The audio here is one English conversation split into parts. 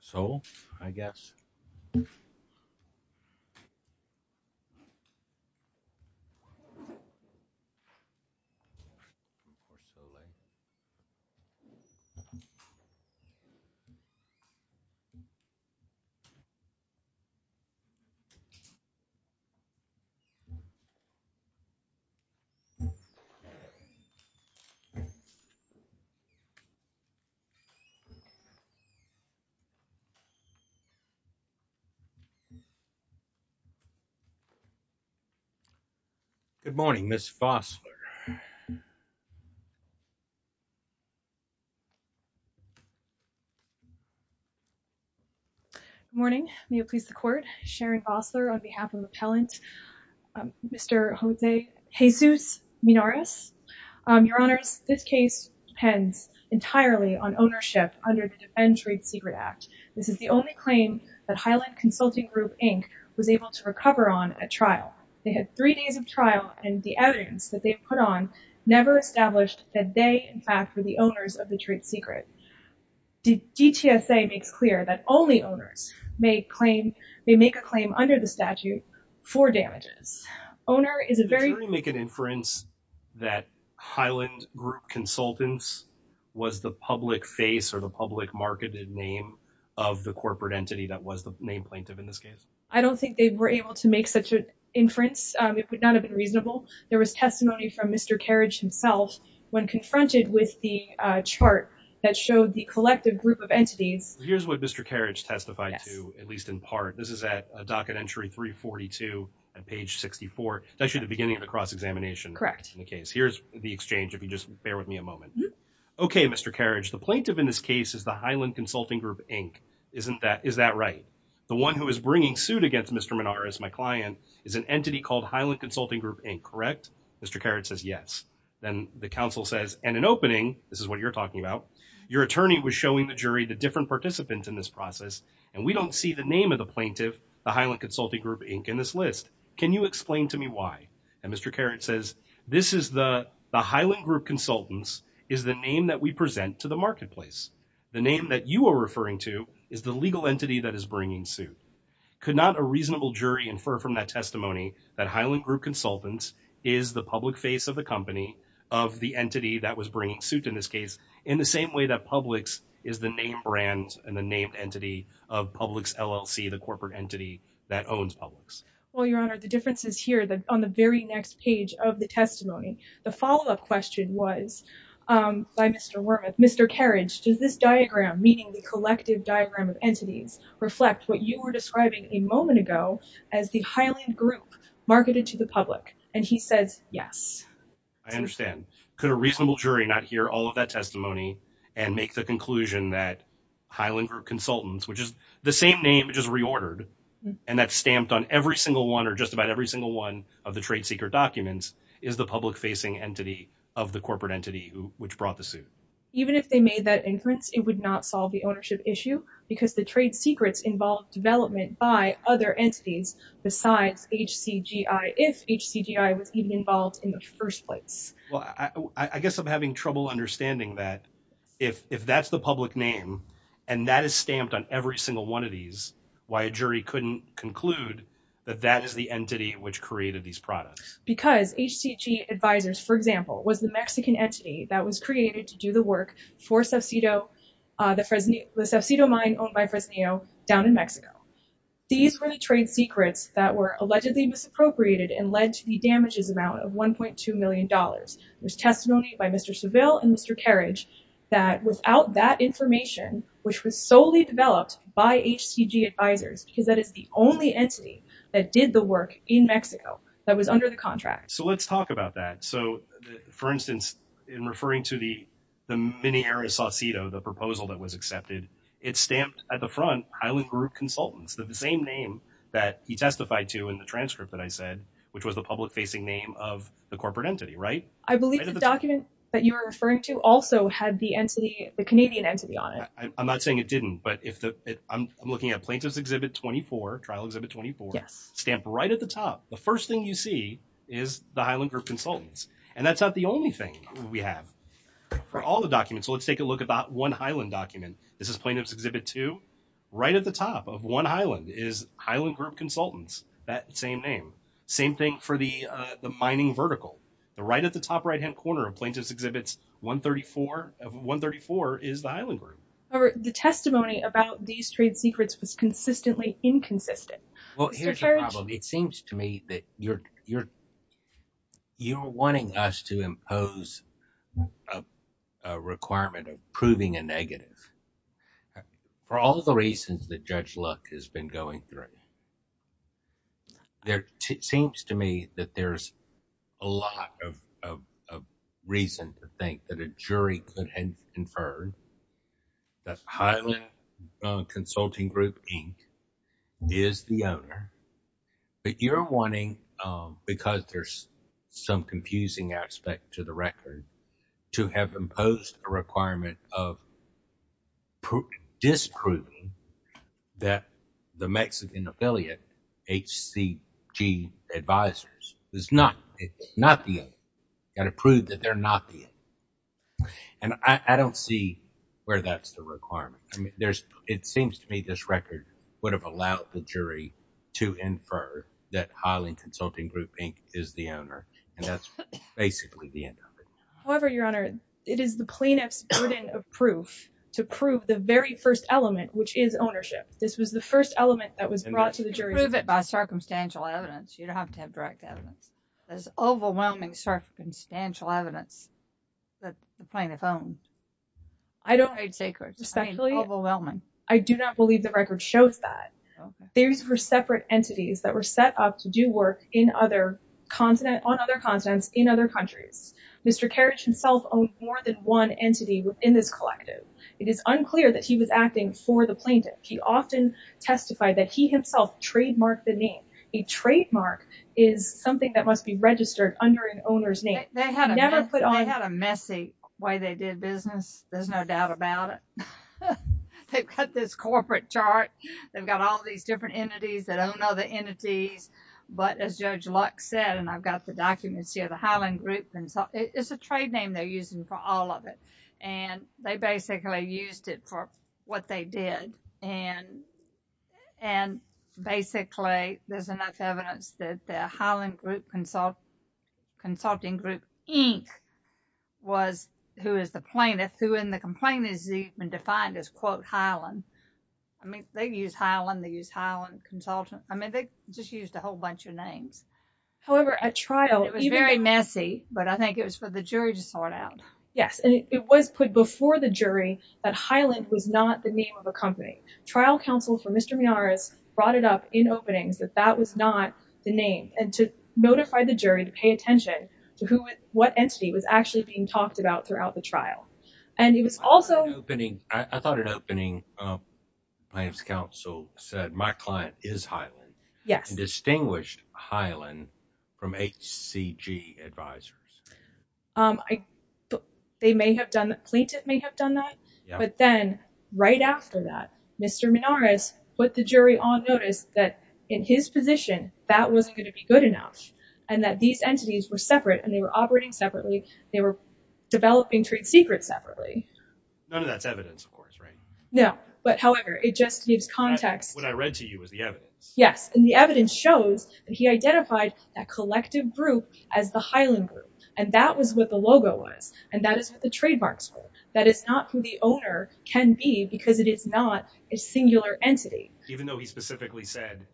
Soule, I guess. Good morning, Ms. Vossler. Good morning, may it please the Court, Sharon Vossler on behalf of the appellant, Mr. Jose Jesus Minjares. Your Honors, this case depends entirely on ownership under the Defend Trait Secret Act. This is the only claim that Highland Consulting Group, Inc. was able to recover on at trial. They had three days of trial and the evidence that they put on never established that they, in fact, were the owners of the Trait Secret. The DTSA makes clear that only owners may claim, may make a claim under the statute for damages. Did the jury make an inference that Highland Group Consultants was the public face or the public marketed name of the corporate entity that was the named plaintiff in this case? I don't think they were able to make such an inference, it would not have been reasonable. There was testimony from Mr. Carriage himself when confronted with the chart that showed the collective group of entities. Here's what Mr. Carriage testified to, at least in part. This is at a docket entry 342 at page 64, actually the beginning of the cross-examination in the case. Here's the exchange, if you just bear with me a moment. Okay, Mr. Carriage, the plaintiff in this case is the Highland Consulting Group, Inc. Is that right? The one who is bringing suit against Mr. Minjares, my client, is an entity called Highland Consulting Group, Inc., correct? Mr. Carriage says yes. Then the counsel says, and in opening, this is what you're talking about, your attorney was showing the jury the different participants in this process and we don't see the name of the plaintiff, the Highland Consulting Group, Inc., in this list. Can you explain to me why? Mr. Carriage says, the Highland Group Consultants is the name that we present to the marketplace. The name that you are referring to is the legal entity that is bringing suit. Could not a reasonable jury infer from that testimony that Highland Group Consultants is the public face of the company, of the entity that was bringing suit in this case, in the same way that Publix is the name brand and the name entity of Publix LLC, the corporate entity that owns Publix? Well, Your Honor, the difference is here on the very next page of the testimony. The follow-up question was by Mr. Wormuth, Mr. Carriage, does this diagram, meaning the collective diagram of entities, reflect what you were describing a moment ago as the Highland Group marketed to the public? And he says yes. I understand. Could a reasonable jury not hear all of that testimony and make the conclusion that Highland Group Consultants, which is the same name, just reordered, and that's stamped on every single one or just about every single one of the trade secret documents, is the public facing entity of the corporate entity which brought the suit? Even if they made that inference, it would not solve the ownership issue because the trade secrets involve development by other entities besides HCGI, if HCGI was even involved in the first place. Well, I guess I'm having trouble understanding that. If that's the public name and that is stamped on every single one of these, why a jury couldn't conclude that that is the entity which created these products? Because HCGI Advisors, for example, was the Mexican entity that was created to do the work for the subsidio mine owned by Fresnillo down in Mexico. These were the trade secrets that were allegedly misappropriated and led to the damages amount of $1.2 million. There's testimony by Mr. Seville and Mr. Carriage that without that information, which was solely developed by HCGI Advisors, because that is the only entity that did the work in Mexico that was under the contract. So let's talk about that. So for instance, in referring to the Minera Saucedo, the proposal that was accepted, it's stamped at the front Highland Group Consultants, the same name that he testified to in the case of the corporate entity, right? I believe the document that you were referring to also had the entity, the Canadian entity on it. I'm not saying it didn't, but if I'm looking at Plaintiff's Exhibit 24, Trial Exhibit 24, stamped right at the top. The first thing you see is the Highland Group Consultants. And that's not the only thing we have for all the documents. So let's take a look about one Highland document. This is Plaintiff's Exhibit 2. Right at the top of one Highland is Highland Group Consultants, that same name. Same thing for the mining vertical. The right at the top right-hand corner of Plaintiff's Exhibit 134 is the Highland Group. The testimony about these trade secrets was consistently inconsistent. Well, here's the problem. It seems to me that you're wanting us to impose a requirement of proving a negative. For all the reasons that Judge Luck has been going through, it seems to me that there's a lot of reason to think that a jury could have inferred that Highland Consulting Group Inc. is the owner. But you're wanting, because there's some confusing aspect to the record, to have imposed a requirement of disproving that the Mexican affiliate, HCG Advisors, is not the owner, got to prove that they're not the owner. And I don't see where that's the requirement. It seems to me this record would have allowed the jury to infer that Highland Consulting Group Inc. is the owner, and that's basically the end of it. However, Your Honor, it is the plaintiff's burden of proof to prove the very first element, which is ownership. This was the first element that was brought to the jury. And you can prove it by circumstantial evidence. You don't have to have direct evidence. There's overwhelming circumstantial evidence that the plaintiff owns. I don't believe the record shows that. These were separate entities that were set up to do work on other continents in other countries. Mr. Kerridge himself owned more than one entity within this collective. It is unclear that he was acting for the plaintiff. He often testified that he himself trademarked the name. A trademark is something that must be registered under an owner's name. They had a messy way they did business. There's no doubt about it. They've got this corporate chart. They've got all these different entities that own other entities. But as Judge Lux said, and I've got the documents here, the Highland Group, it's a trade name they're using for all of it. And they basically used it for what they did. And basically, there's enough evidence that the Highland Group Consulting Group Inc. was who is the plaintiff, who in the complaint is even defined as, quote, Highland. They use Highland. They use Highland Consultant. I mean, they just used a whole bunch of names. However, at trial, it was very messy, but I think it was for the jury to sort out. Yes, and it was put before the jury that Highland was not the name of a company. Trial counsel for Mr. Meares brought it up in openings that that was not the name and to notify the jury to pay attention to who, what entity was actually being talked about throughout the trial. I thought an opening plaintiff's counsel said, my client is Highland, and distinguished Highland from HCG advisors. They may have done that. Plaintiff may have done that, but then right after that, Mr. Meares put the jury on notice that in his position, that wasn't going to be good enough and that these entities were separate and they were operating separately. They were developing trade secrets separately. None of that's evidence, of course, right? No, but however, it just gives context. What I read to you is the evidence. Yes, and the evidence shows that he identified that collective group as the Highland group, and that was what the logo was, and that is what the trademarks were. That is not who the owner can be because it is not a singular entity. Even though he specifically said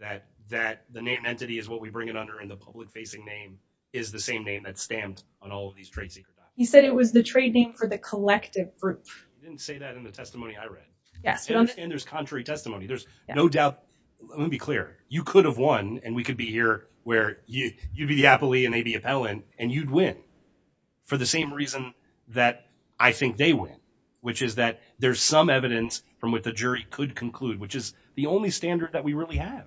that that the name entity is what we bring it under and the public facing name is the same name that's stamped on all of these trade secrets. He said it was the trade name for the collective group. He didn't say that in the testimony I read. Yes. There's contrary testimony. There's no doubt. Let me be clear. You could have won and we could be here where you'd be the appellee and they'd be appellant and you'd win for the same reason that I think they win, which is that there's some evidence from what the jury could conclude, which is the only standard that we really have.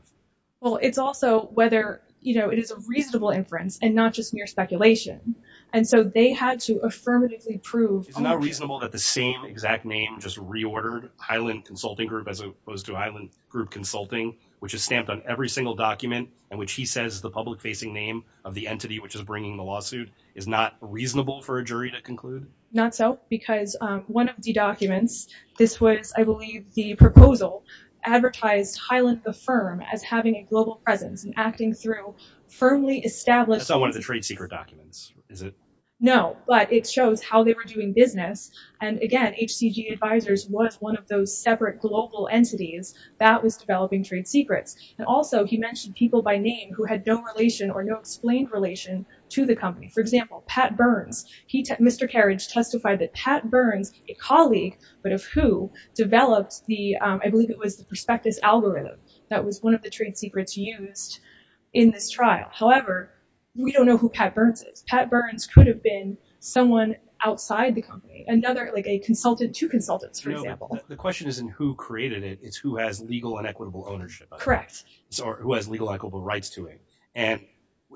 Well, it's also whether it is a reasonable inference and not just mere speculation. And so they had to affirmatively prove- Is it not reasonable that the same exact name just reordered Highland Consulting Group as opposed to Highland Group Consulting, which is stamped on every single document in which he says the public facing name of the entity which is bringing the lawsuit is not reasonable for a jury to conclude? Not so, because one of the documents, this was, I believe, the proposal advertised Highland the firm as having a global presence and acting through firmly established- That's not one of the trade secret documents, is it? No, but it shows how they were doing business. And again, HCG Advisors was one of those separate global entities that was developing trade secrets. And also he mentioned people by name who had no relation or no explained relation to the company. For example, Pat Burns. Mr. Carriage testified that Pat Burns, a colleague, but of who, developed the, I believe it was the Prospectus algorithm that was one of the trade secrets used in this trial. However, we don't know who Pat Burns is. Pat Burns could have been someone outside the company, another, like a consultant, two consultants, for example. The question isn't who created it, it's who has legal and equitable ownership. Correct. Or who has legal equitable rights to it. And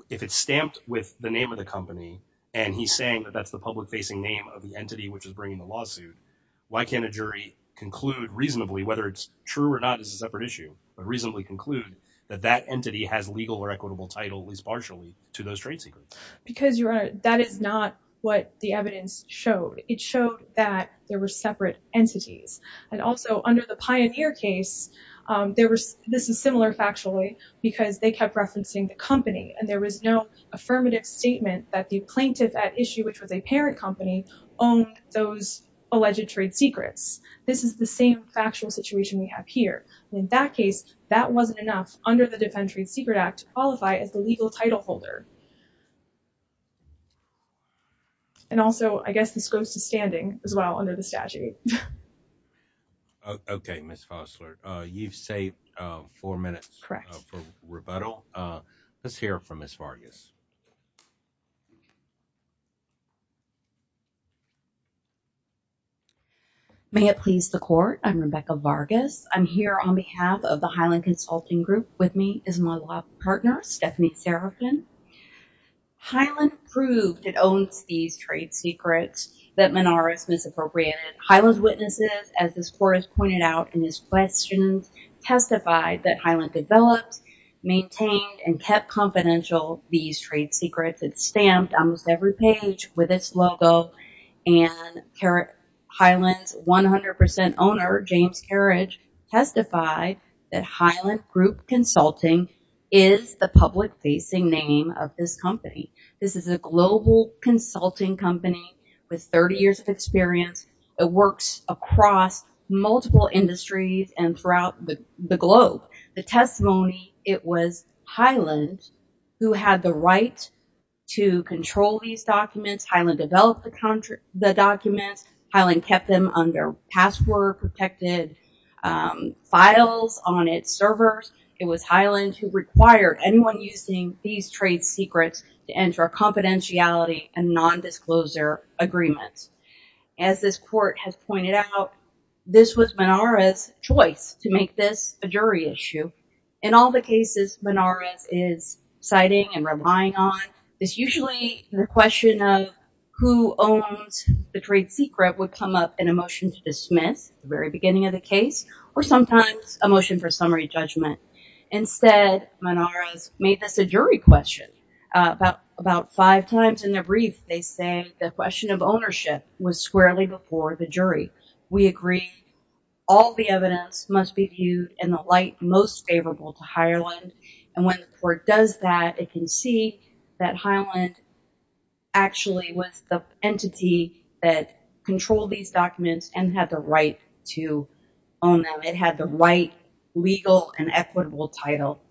if it's stamped with the name of the company, and he's saying that that's the public facing name of the entity which is bringing the lawsuit, why can't a jury conclude reasonably whether it's true or not as a separate issue, but reasonably conclude that that entity has legal or equitable title, at least partially, to those trade secrets? Because Your Honor, that is not what the evidence showed. It showed that there were separate entities. And also under the Pioneer case, there was, this is similar factually, because they kept referencing the company, and there was no affirmative statement that the plaintiff at issue, which was a parent company, owned those alleged trade secrets. This is the same factual situation we have here. And in that case, that wasn't enough under the Defend Trade Secret Act to qualify as the legal title holder. And also, I guess this goes to standing, as well, under the statute. Okay, Ms. Fosler, you've saved four minutes for rebuttal. Correct. Let's hear it from Ms. Vargas. May it please the Court, I'm Rebecca Vargas. I'm here on behalf of the Highland Consulting Group. With me is my law partner, Stephanie Serafin. Highland proved it owns these trade secrets that Menorah's misappropriated. Highland's witnesses, as this Court has pointed out in his questions, testified that Highland developed, maintained, and kept confidential these trade secrets. It stamped almost every page with its logo, and Highland's 100% owner, James Carriage, testified that Highland Group Consulting is the public-facing name of this company. This is a global consulting company with 30 years of experience that works across multiple industries and throughout the globe. The testimony, it was Highland who had the right to control these documents. Highland developed the documents. Highland kept them under password-protected files on its servers. It was Highland who required anyone using these trade secrets to enter a confidentiality and nondisclosure agreement. As this Court has pointed out, this was Menorah's choice to make this a jury issue. In all the cases Menorah is citing and relying on, it's usually the question of who owns the trade secret would come up in a motion to dismiss at the very beginning of the case, or sometimes a motion for summary judgment. Instead, Menorah's made this a jury question. About five times in the brief, they say the question of ownership was squarely before the jury. We agree all the evidence must be viewed in the light most favorable to Highland. And when the Court does that, it can see that Highland actually was the entity that controlled these documents and had the right to own them. It had the right legal and equitable title.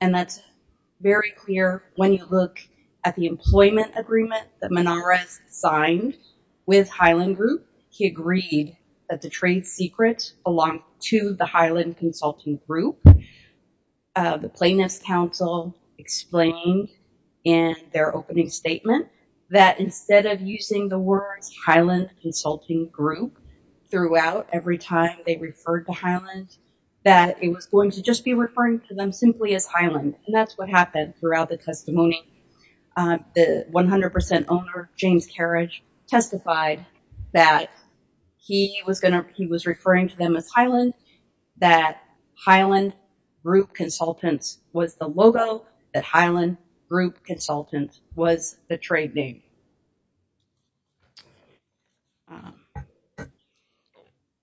And that's very clear when you look at the employment agreement that Menorah signed with Highland Group. He agreed that the trade secrets belonged to the Highland Consulting Group. The Plainness Council explained in their opening statement that instead of using the words Highland Consulting Group throughout every time they referred to Highland, that it was going to just be referring to them simply as Highland. And that's what happened throughout the testimony. The 100% owner, James Kerridge, testified that he was referring to them as Highland, that Highland Group Consultants was the logo, that Highland Group Consultants was the trade name.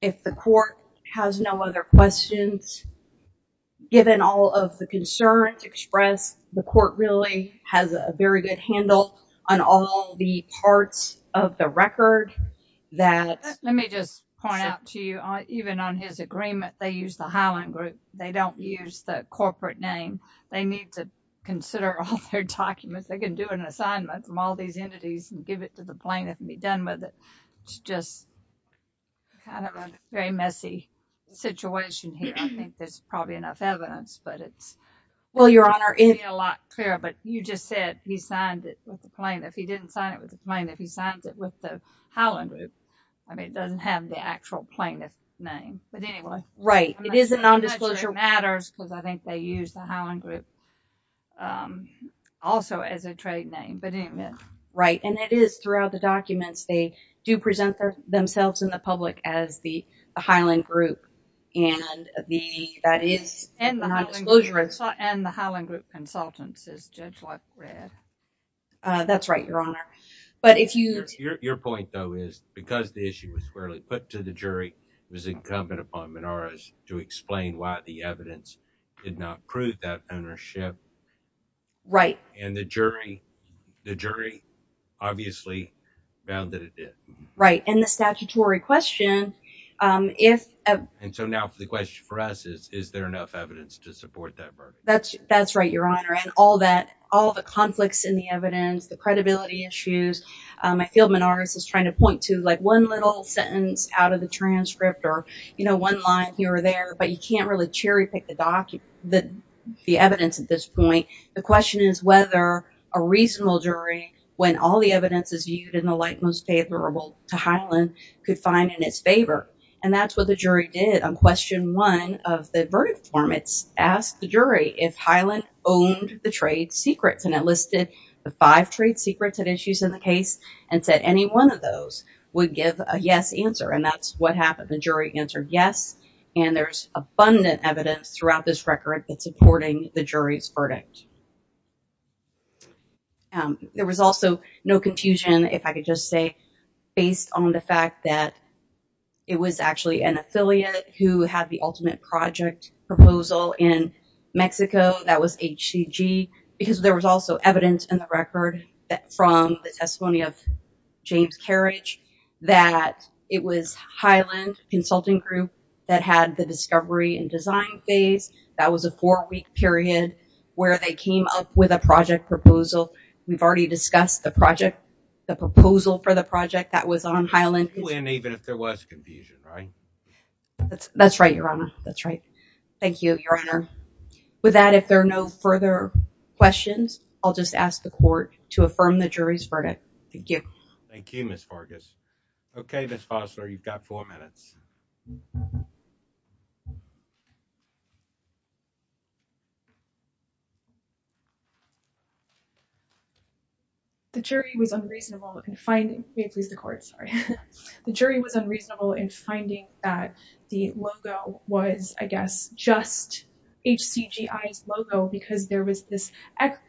If the Court has no other questions, given all of the concerns expressed, the Court really has a very good handle on all the parts of the record that... Let me just point out to you, even on his agreement, they use the Highland Group. They don't use the corporate name. They need to consider all their documents. They can do an assignment from all these entities and give it to the plaintiff and be done with it. It's just kind of a very messy situation here. I think there's probably enough evidence, but it's not going to be a lot clearer. But you just said he signed it with the plaintiff. He didn't sign it with the plaintiff. He signed it with the Highland Group. I mean, it doesn't have the actual plaintiff name. But anyway... Right. And it is throughout the documents, they do present themselves in the public as the Highland Group. And the Highland Group Consultants, as Judge Luck read. That's right, Your Honor. But if you... Your point, though, is because the issue was fairly put to the jury, it was incumbent upon Menorahs to explain why the evidence did not prove that ownership. Right. And the jury obviously found that it did. Right. And the statutory question, if... And so now the question for us is, is there enough evidence to support that verdict? That's right, Your Honor. And all the conflicts in the evidence, the credibility issues, I feel Menorahs is trying to point to one little sentence out of the transcript or one line here or there, but you can't really cherry pick the evidence at this point. The question is whether a reasonable jury, when all the evidence is viewed in the light most favorable to Highland, could find in its favor. And that's what the jury did. On question one of the verdict form, it's asked the jury if Highland owned the trade secrets. And it listed the five trade secrets and issues in the case and said any one of those would give a yes answer. And that's what happened. The jury answered yes. And there's abundant evidence throughout this record that's supporting the jury's verdict. There was also no confusion, if I could just say, based on the fact that it was actually an affiliate who had the ultimate project proposal in Mexico that was HCG, because there was also evidence in the record from the testimony of James Carriage that it was Highland Consulting Group that had the discovery and design phase. That was a four-week period where they came up with a project proposal. We've already discussed the project, the proposal for the project that was on Highland. And even if there was confusion, right? That's right, Your Honor. That's right. Thank you, Your Honor. With that, if there are no further questions, I'll just ask the court to affirm the jury's verdict. Thank you. Thank you, Ms. Fargus. Okay, Ms. Fosler, you've got four minutes. The jury was unreasonable in finding, may it please the court, sorry. The jury was unreasonable in finding that the logo was, I guess, just HCGI's logo because there was this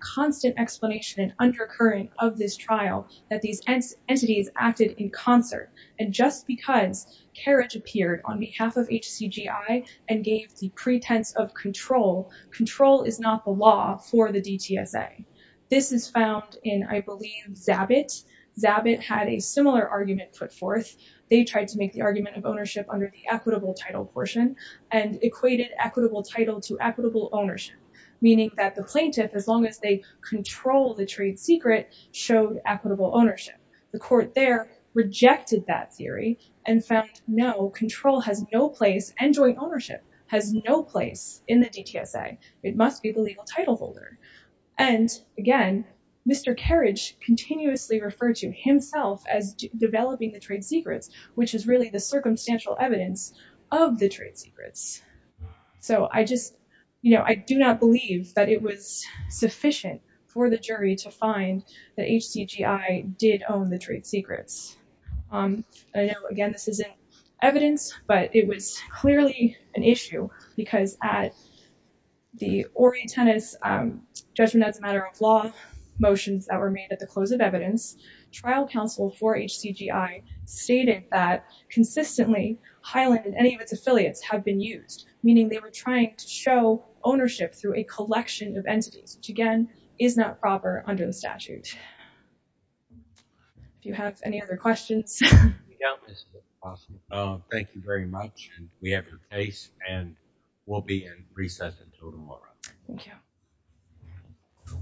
constant explanation and undercurrent of this trial that these entities acted in concert. And just because Carriage appeared on behalf of HCGI and gave the pretense of control, control is not the law for the DTSA. This is found in, I believe, Zabit. Zabit had a similar argument put forth. They tried to make the argument of ownership under the equitable title portion and equated equitable title to equitable ownership, meaning that the plaintiff, as long as they control the trade secret, showed equitable ownership. The court there rejected that theory and found, no, control has no place and joint ownership has no place in the DTSA. It must be the legal title holder. And again, Mr. Carriage continuously referred to himself as developing the trade secrets, which is really the circumstantial evidence of the trade secrets. So I just, you know, I do not believe that it was sufficient for the jury to find that own the trade secrets. I know, again, this isn't evidence, but it was clearly an issue because at the Ori Tennis judgment as a matter of law motions that were made at the close of evidence, trial counsel for HCGI stated that consistently Highland and any of its affiliates have been used, meaning they were trying to show ownership through a collection of entities, which again is not proper under the statute. Do you have any other questions? Thank you very much. And we have your case and we'll be in recess until tomorrow. Thank you.